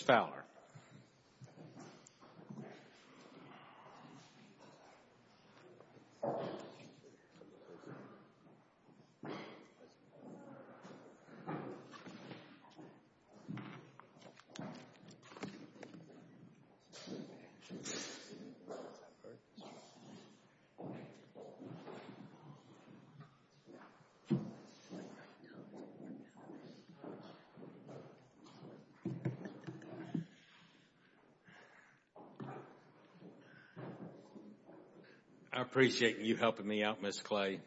Fowler I appreciate you helping me out Ms. Clay.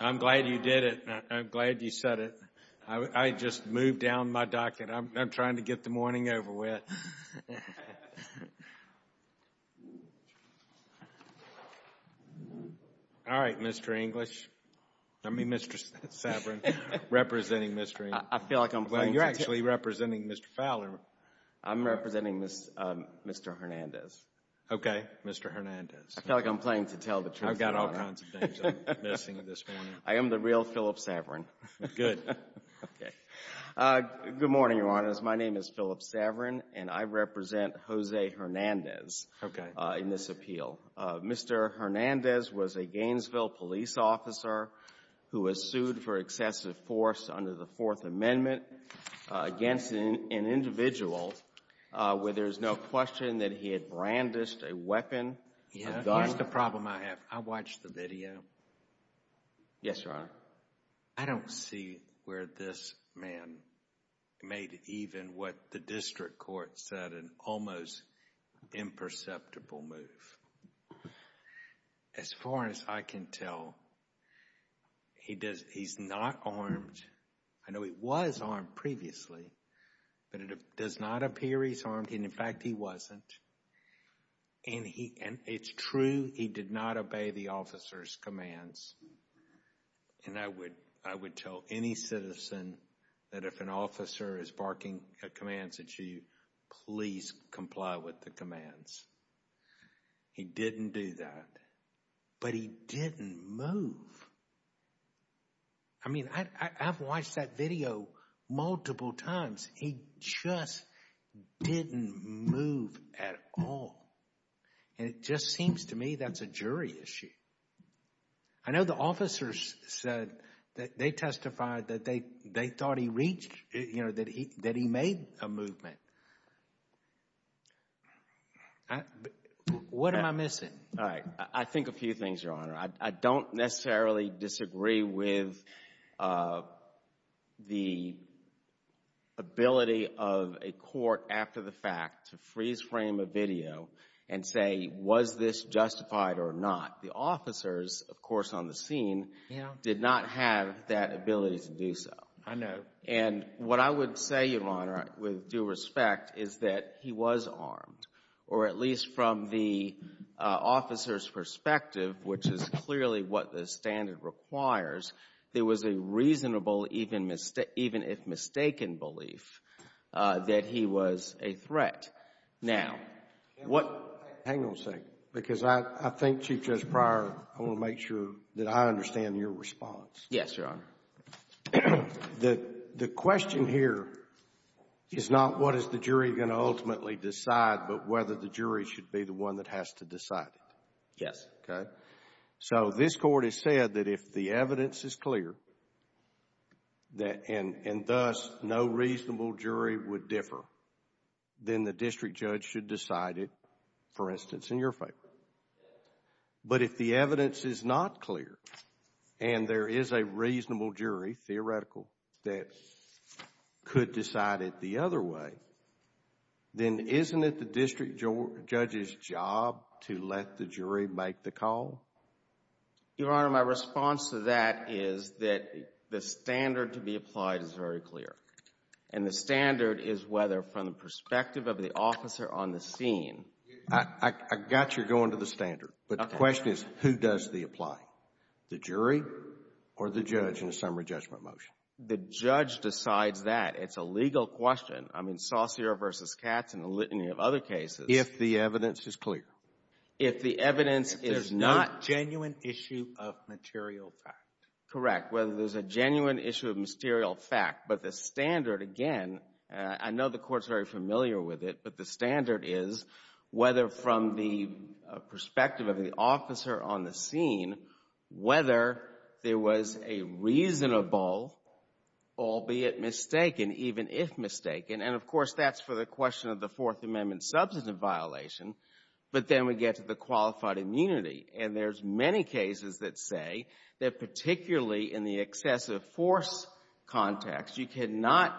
I'm glad you did it. I'm glad you said it. I just moved down my docket. I'm trying to get the morning over with. Alright Mr. English, I mean Mr. Sabrin, representing Mr. English. I feel like I'm playing to tell the truth. I am the real Philip Sabrin. Good. Good morning, Your Honors. My name is Philip Sabrin, and I represent Jose Hernandez in this appeal. Mr. Hernandez was a Gainesville police officer who was sued for excessive force under the Fourth Amendment against an individual where there is no question that he had brandished a weapon. Here's the problem I have. I watched the video. Yes, Your Honor. I don't see where this man made even what the district court said an almost imperceptible move. As far as I can tell, he's not armed. I know he was armed previously, but it does not appear he's armed, and in fact he wasn't. And it's true, he did not obey the officer's commands. And I would tell any citizen that if an officer is barking commands at you, please comply with the commands. He didn't do that, but he didn't move. I mean, I've watched that video multiple times. He just didn't move at all, and it just seems to me that's a jury issue. I know the officers said that they testified that they thought he reached, you know, that he made a movement. What am I missing? All right. I think a few things, Your Honor. I don't necessarily disagree with the ability of a court after the fact to freeze frame a video and say, was this justified or not? The officers, of course, on the scene did not have that ability to do so. I know. And what I would say, Your Honor, with due respect, is that he was armed, or at least from the officer's perspective, which is clearly what the standard requires, there was a reasonable, even if mistaken, belief that he was a threat. Now, what Hang on a second, because I think, Chief Judge Pryor, I want to make sure that I understand your response. Yes, Your Honor. The question here is not what is the jury going to ultimately decide, but whether the jury should be the one that has to decide it. Yes. Okay? So this Court has said that if the evidence is clear, and thus no reasonable jury would differ, then the district judge should decide it, for instance, in your favor. Yes. But if the evidence is not clear, and there is a reasonable jury, theoretical, that could decide it the other way, then isn't it the district judge's job to let the jury make the call? Your Honor, my response to that is that the standard to be applied is very clear. And the standard is whether, from the perspective of the officer on the scene I got your going to the standard. Okay. But the question is, who does the applying? The jury or the judge in a summary judgment motion? The judge decides that. It's a legal question. I mean, Saucere v. Katz and a litany of other cases. If the evidence is clear. If the evidence is not… If there's no genuine issue of material fact. Correct. Whether there's a genuine issue of material fact. But the standard, again, I know the Court's very familiar with it, but the standard is whether, from the perspective of the officer on the scene, whether there was a reasonable, albeit mistaken, even if mistaken, and of course that's for the question of the Fourth Amendment substantive violation, but then we get to the qualified immunity. And there's many cases that say that, particularly in the excessive force context, you cannot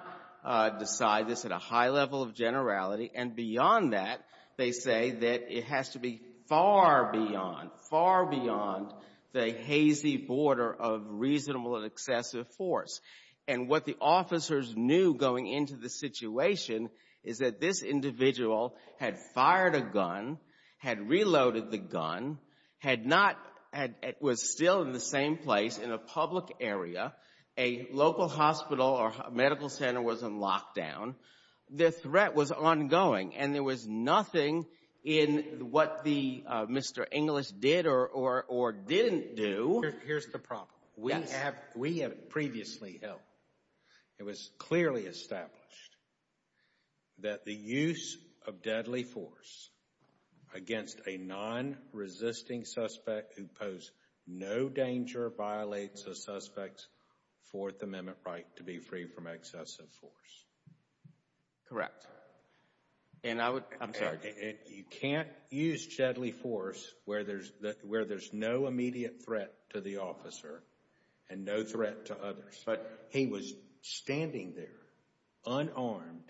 decide this at a high level of generality. And beyond that, they say that it has to be far beyond, far beyond the hazy border of reasonable and excessive force. And what the officers knew going into the situation is that this individual had fired a gun, had reloaded the gun, had not… was still in the same place in a public area, a local hospital or medical center was in lockdown, the threat was ongoing, and there was nothing in what the Mr. Inglis did or didn't do… Here's the problem. We have previously held, it was clearly established that the use of Fourth Amendment right to be free from excessive force. Correct. And I would… I'm sorry, you can't use deadly force where there's no immediate threat to the officer and no threat to others. But he was standing there unarmed,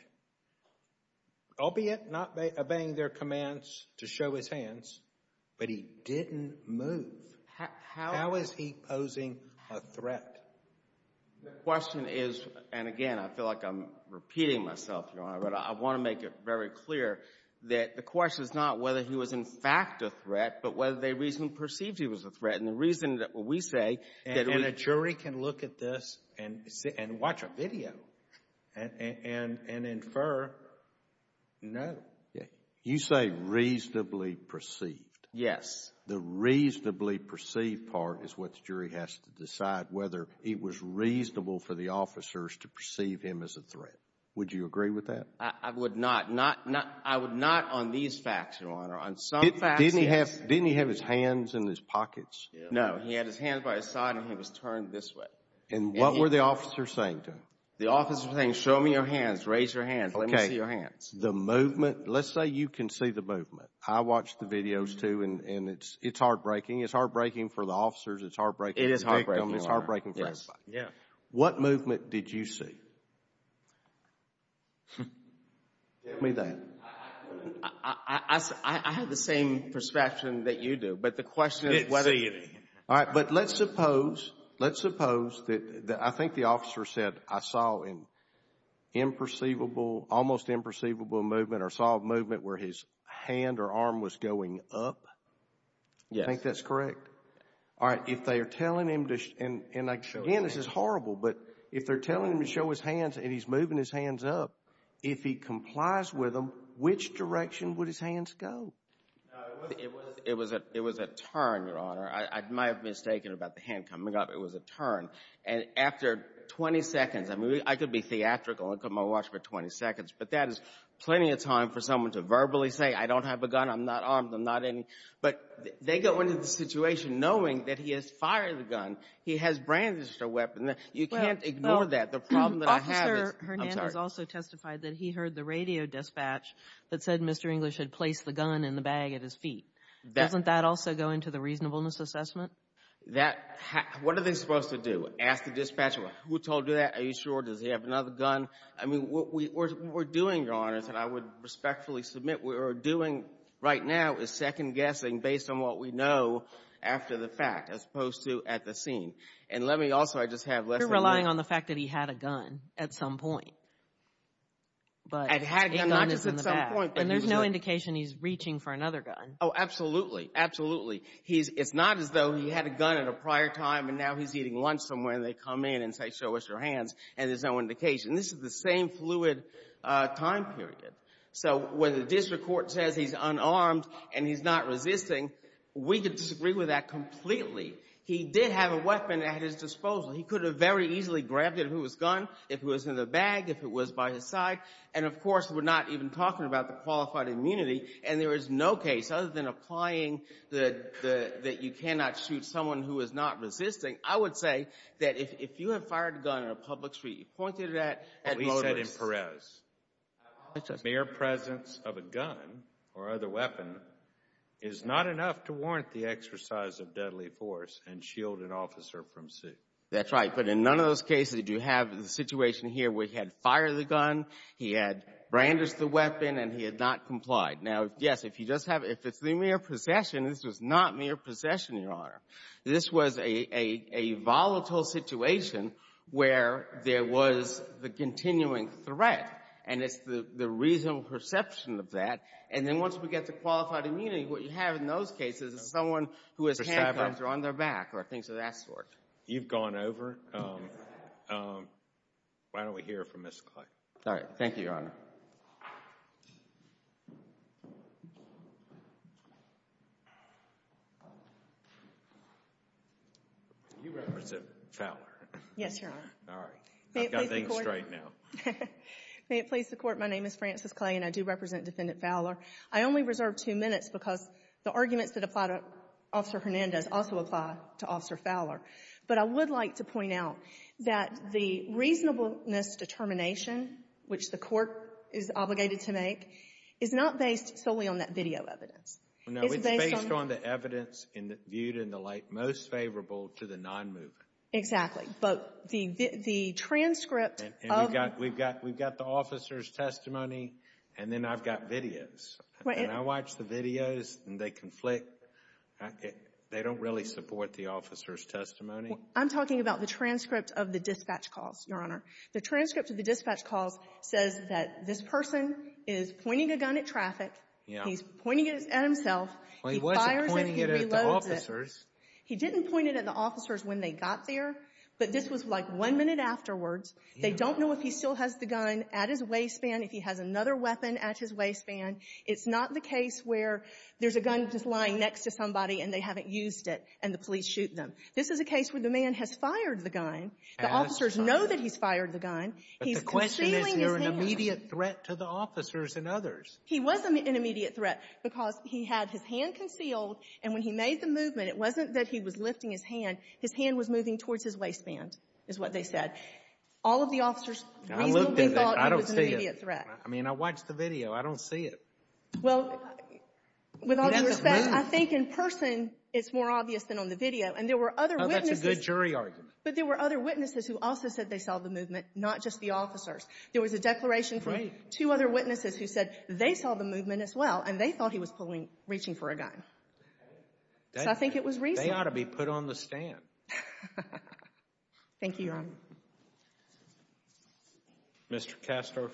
albeit not obeying their commands to show his hands, but he didn't move. How is he posing a threat? The question is, and again, I feel like I'm repeating myself, Your Honor, but I want to make it very clear that the question is not whether he was in fact a threat, but whether they reasonably perceived he was a threat. And the reason that we say that… And a jury can look at this and watch a video and infer no. You say reasonably perceived. Yes. The reasonably perceived part is what the jury has to decide, whether it was reasonable for the officers to perceive him as a threat. Would you agree with that? I would not. I would not on these facts, Your Honor. On some facts, yes. Didn't he have his hands in his pockets? No. He had his hands by his side and he was turned this way. And what were the officers saying to him? The officers were saying, show me your hands, raise your hands, let me see your hands. The movement, let's say you can see the movement. I watch the videos, too, and it's heartbreaking. It's heartbreaking for the officers, it's heartbreaking for the victim, it's heartbreaking for everybody. Yes. What movement did you see? Give me that. I have the same perception that you do, but the question is whether… Didn't see any. All right. But let's suppose, let's suppose that I think the officer said, I saw an almost imperceivable movement or saw a movement where his hand or arm was going up. Yes. You think that's correct? All right. If they are telling him to, and again, this is horrible, but if they're telling him to show his hands and he's moving his hands up, if he complies with them, which direction would his hands go? It was a turn, Your Honor. I might have mistaken about the hand coming up. It was a turn. And after 20 seconds, I mean, I could be theatrical and come and watch for 20 seconds, but that is plenty of time for someone to verbally say, I don't have a gun, I'm not armed, I'm not any… But they go into the situation knowing that he has fired the gun, he has brandished a weapon. You can't ignore that. The problem that I have is… Well, Officer Hernandez also testified that he heard the radio dispatch that said Mr. English had placed the gun in the bag at his feet. Doesn't that also go into the reasonableness assessment? That… What are they supposed to do? Ask the dispatcher, who told you that? Are you sure? Does he have another gun? I mean, what we're doing, Your Honor, is that I would respectfully submit what we're doing right now is second-guessing based on what we know after the fact as opposed to at the scene. And let me also, I just have less… You're relying on the fact that he had a gun at some point. But a gun is in the bag. I had a gun not just at some point, but he was… And there's no indication he's reaching for another gun. Oh, absolutely. Absolutely. He's… It's not as though he had a gun at a prior time, and now he's eating lunch somewhere, and they come in and say, show us your hands, and there's no indication. This is the same fluid time period. So when the district court says he's unarmed and he's not resisting, we could disagree with that completely. He did have a weapon at his disposal. He could have very easily grabbed it if it was a gun, if it was in the bag, if it was by his side. And, of course, we're not even talking about the qualified immunity, and there is no case other than applying that you cannot shoot someone who is not resisting. I would say that if you have fired a gun on a public street, you pointed it at… What we said in Perez, mere presence of a gun or other weapon is not enough to warrant the exercise of deadly force and shield an officer from suit. That's right. But in none of those cases did you have the situation here where he had fired the gun and he had not complied. Now, yes, if you just have — if it's the mere possession, this was not mere possession, Your Honor. This was a volatile situation where there was the continuing threat, and it's the reasonable perception of that. And then once we get to qualified immunity, what you have in those cases is someone who has handcuffs on their back or things of that sort. You've gone over. Why don't we hear from Ms. Clay. All right. Thank you, Your Honor. You represent Fowler? Yes, Your Honor. All right. I've got things straight now. May it please the Court, my name is Frances Clay, and I do represent Defendant Fowler. I only reserve two minutes because the arguments that apply to Officer Hernandez also apply to which the Court is obligated to make, is not based solely on that video evidence. No, it's based on the evidence viewed in the light most favorable to the nonmoving. Exactly. But the transcript of — We've got the officer's testimony, and then I've got videos. When I watch the videos and they conflict, they don't really support the officer's testimony. I'm talking about the transcript of the dispatch calls, Your Honor. The transcript of the dispatch calls says that this person is pointing a gun at traffic. Yeah. He's pointing it at himself. Well, he wasn't pointing it at the officers. He didn't point it at the officers when they got there, but this was like one minute afterwards. They don't know if he still has the gun at his waistband, if he has another weapon at his waistband. It's not the case where there's a gun just lying next to somebody and they haven't used it, and the police shoot them. This is a case where the man has fired the gun. The officers know that he's fired the gun. But the question is, is there an immediate threat to the officers and others? He was an immediate threat because he had his hand concealed, and when he made the movement, it wasn't that he was lifting his hand. His hand was moving towards his waistband, is what they said. All of the officers reasonably thought it was an immediate threat. I mean, I watched the video. I don't see it. Well, with all due respect, I think in person it's more obvious than on the video. And there were other witnesses — Oh, that's a good jury argument. But there were other witnesses who also said they saw the movement, not just the officers. There was a declaration from two other witnesses who said they saw the movement as well, and they thought he was reaching for a gun. So I think it was reasonable. They ought to be put on the stand. Thank you, Your Honor. Mr. Kastorf.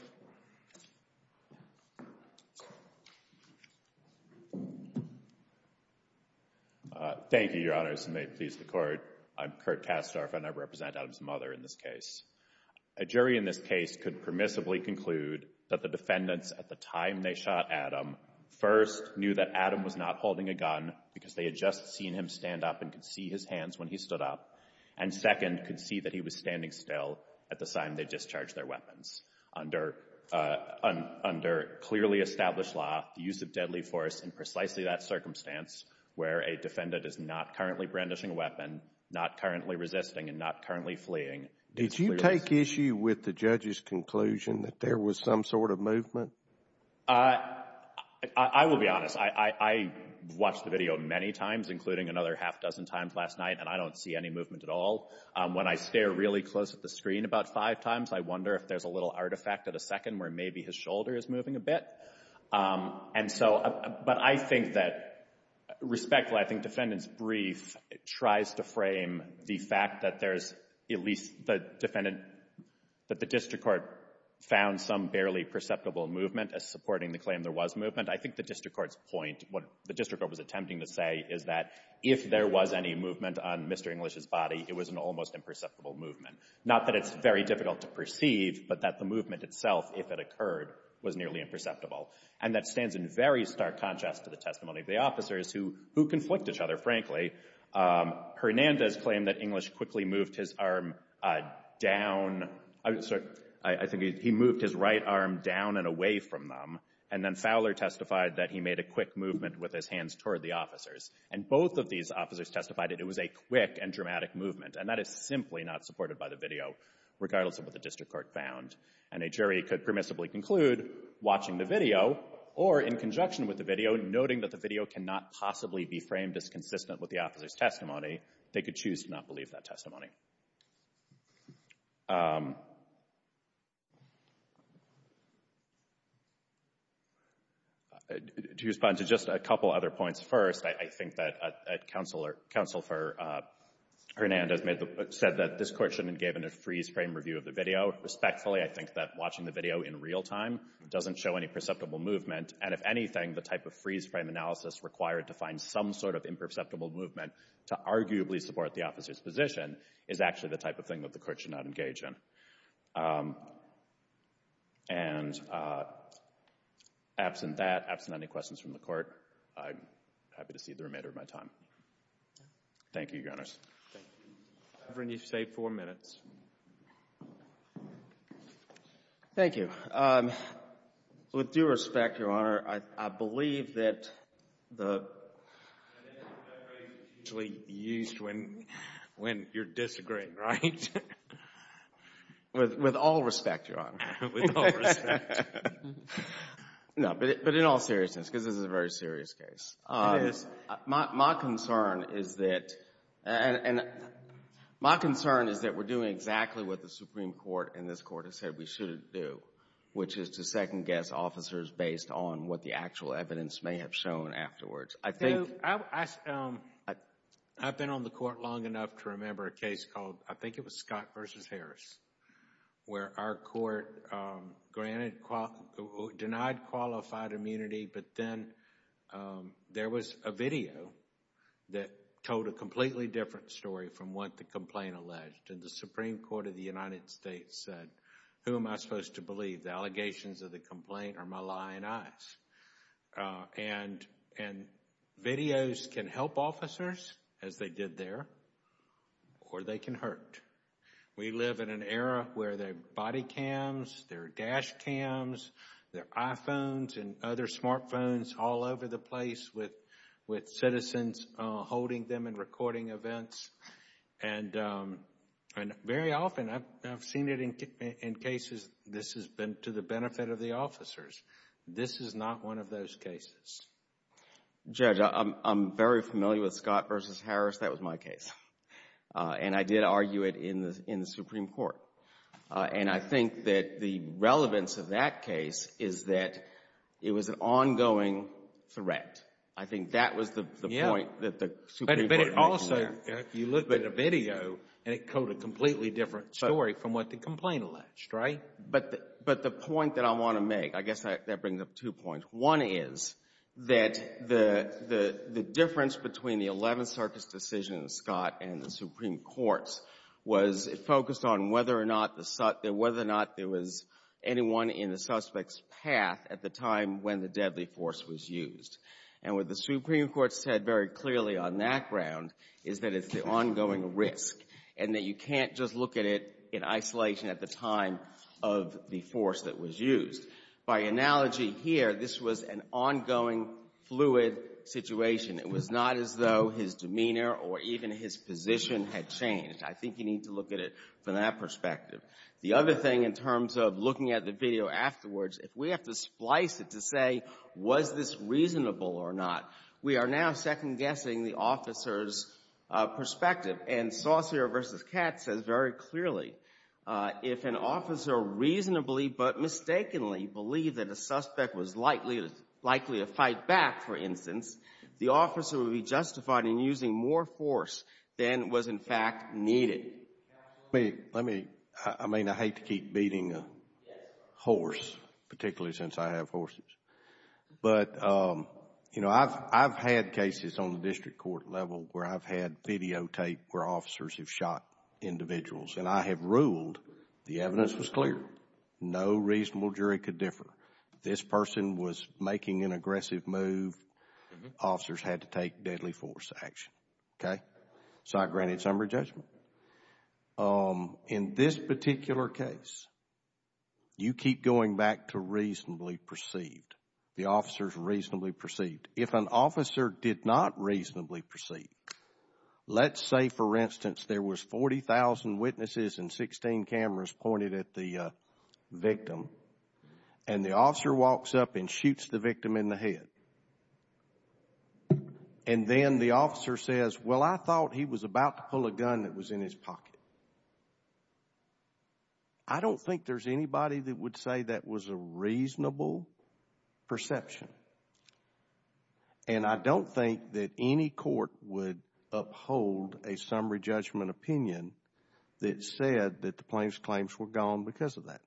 Thank you, Your Honors, and may it please the Court. I'm Kurt Kastorf, and I represent Adam's mother in this case. A jury in this case could permissibly conclude that the defendants at the time they shot Adam first knew that Adam was not holding a gun because they had just seen him stand up and could see his hands when he stood up, and second, could see that he was standing still at the time they discharged their weapons under clearly established law, the use of deadly force in precisely that circumstance where a defendant is not currently brandishing a weapon, not currently resisting, and not currently fleeing. Did you take issue with the judge's conclusion that there was some sort of movement? I will be honest. I watched the video many times, including another half dozen times last night, and I don't see any movement at all. When I stare really close at the screen about five times, I wonder if there's a little artifact at a second where maybe his shoulder is moving a bit. And so, but I think that, respectfully, I think the defendant's brief tries to frame the fact that there's at least the defendant, that the district court found some barely perceptible movement as supporting the claim there was movement. I think the district court's point, what the district court was attempting to say, is that if there was any movement on Mr. English's body, it was an almost imperceptible movement. Not that it's very difficult to perceive, but that the movement itself, if it occurred, was nearly imperceptible. And that stands in very stark contrast to the testimony of the officers, who conflict each other, frankly. Hernandez claimed that English quickly moved his arm down. I think he moved his right arm down and away from them, and then Fowler testified that he made a quick movement with his hands toward the officers. And both of these officers testified that it was a quick and dramatic movement, and that is simply not supported by the video, regardless of what the district court found. And a jury could permissibly conclude, watching the video, or in conjunction with the video, noting that the video cannot possibly be framed as consistent with the officer's testimony, they could choose to not leave that testimony. To respond to just a couple other points first, I think that Counselor Hernandez said that this court shouldn't have given a freeze-frame review of the video. Respectfully, I think that watching the video in real time doesn't show any perceptible movement, and if anything, the type of freeze-frame analysis required to find some sort of is actually the type of thing that the Court should not engage in. And absent that, absent any questions from the Court, I'm happy to cede the remainder of my time. Thank you, Your Honors. Thank you. Reverend, you've stayed four minutes. Thank you. With due respect, Your Honor, I believe that the phrase is usually used when you're disagreeing, right? With all respect, Your Honor. No, but in all seriousness, because this is a very serious case. My concern is that we're doing exactly what the Supreme Court in this Court has said we shouldn't do, which is to second-guess officers based on what the actual evidence may have shown afterwards. You know, I've been on the Court long enough to remember a case called, I think it was Scott v. Harris, where our Court denied qualified immunity, but then there was a video that told a completely different story from what the complaint alleged, and the Supreme Court of the United States said, who am I supposed to believe? The allegations of the complaint are my lying eyes, and videos can help officers, as they did there, or they can hurt. We live in an era where there are body cams, there are dash cams, there are iPhones and other smartphones all over the place with citizens holding them and recording events, and very often, I've seen it in cases, this has been to the benefit of the officers. This is not one of those cases. Judge, I'm very familiar with Scott v. Harris. That was my case, and I did argue it in the Supreme Court, and I think that the relevance of that case is that it was an ongoing threat. But it also, if you look at the video, it told a completely different story from what the complaint alleged, right? But the point that I want to make, I guess that brings up two points. One is that the difference between the Eleventh Circuit's decision in Scott and the Supreme Court's was focused on whether or not there was anyone in the suspect's path at the time when the deadly force was used. And what the Supreme Court said very clearly on that ground is that it's the ongoing risk and that you can't just look at it in isolation at the time of the force that was used. By analogy here, this was an ongoing, fluid situation. It was not as though his demeanor or even his position had changed. I think you need to look at it from that perspective. The other thing in terms of looking at the video afterwards, if we have to splice it to say was this reasonable or not, we are now second-guessing the officer's perspective. And Saucere v. Katz says very clearly, if an officer reasonably but mistakenly believed that a suspect was likely to fight back, for instance, the officer would be justified in using more force than was in fact needed. I hate to keep beating a horse, particularly since I have horses. But I've had cases on the district court level where I've had videotape where officers have shot individuals and I have ruled the evidence was clear. No reasonable jury could differ. This person was making an aggressive move. Officers had to take deadly force action. Okay? So I granted summary judgment. In this particular case, you keep going back to reasonably perceived. The officer is reasonably perceived. If an officer did not reasonably perceive, let's say, for instance, there was 40,000 witnesses and 16 cameras pointed at the victim and the officer walks up and shoots the victim in the head. And then the officer says, well, I thought he was about to pull a gun that was in his pocket. I don't think there's anybody that would say that was a reasonable perception. And I don't think that any court would uphold a summary judgment opinion that said that the plaintiff's claims were gone because of that.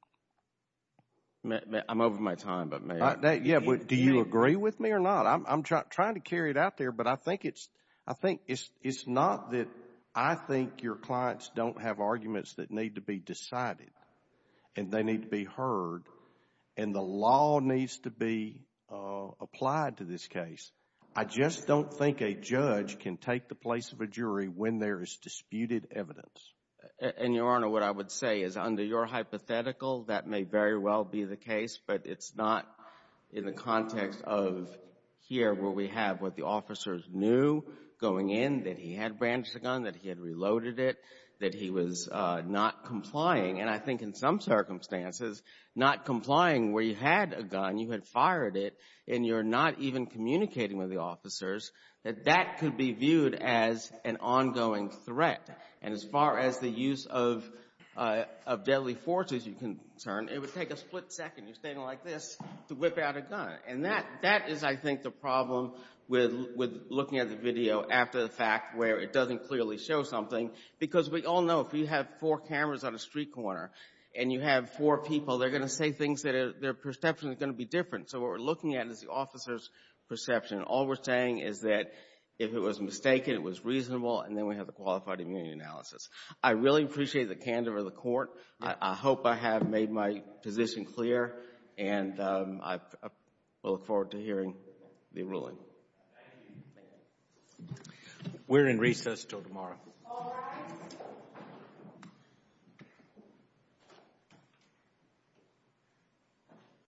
I'm over my time, but may I? Do you agree with me or not? I'm trying to carry it out there, but I think it's not that I think your clients don't have arguments that need to be decided and they need to be heard and the law needs to be applied to this case. I just don't think a judge can take the place of a jury when there is disputed evidence. And, Your Honor, what I would say is under your hypothetical, that may very well be the case in the context of here where we have what the officers knew going in, that he had branched a gun, that he had reloaded it, that he was not complying. And I think in some circumstances, not complying where you had a gun, you had fired it, and you're not even communicating with the officers, that that could be viewed as an ongoing threat. And as far as the use of deadly force is concerned, it would take a split second. You're standing like this to whip out a gun. And that is, I think, the problem with looking at the video after the fact where it doesn't clearly show something. Because we all know if you have four cameras on a street corner and you have four people, they're going to say things that their perception is going to be different. So what we're looking at is the officer's perception. All we're saying is that if it was mistaken, it was reasonable, and then we have the qualified immunity analysis. I really appreciate the candor of the Court. I hope I have made my position clear, and I look forward to hearing the ruling. Thank you. We're in recess until tomorrow.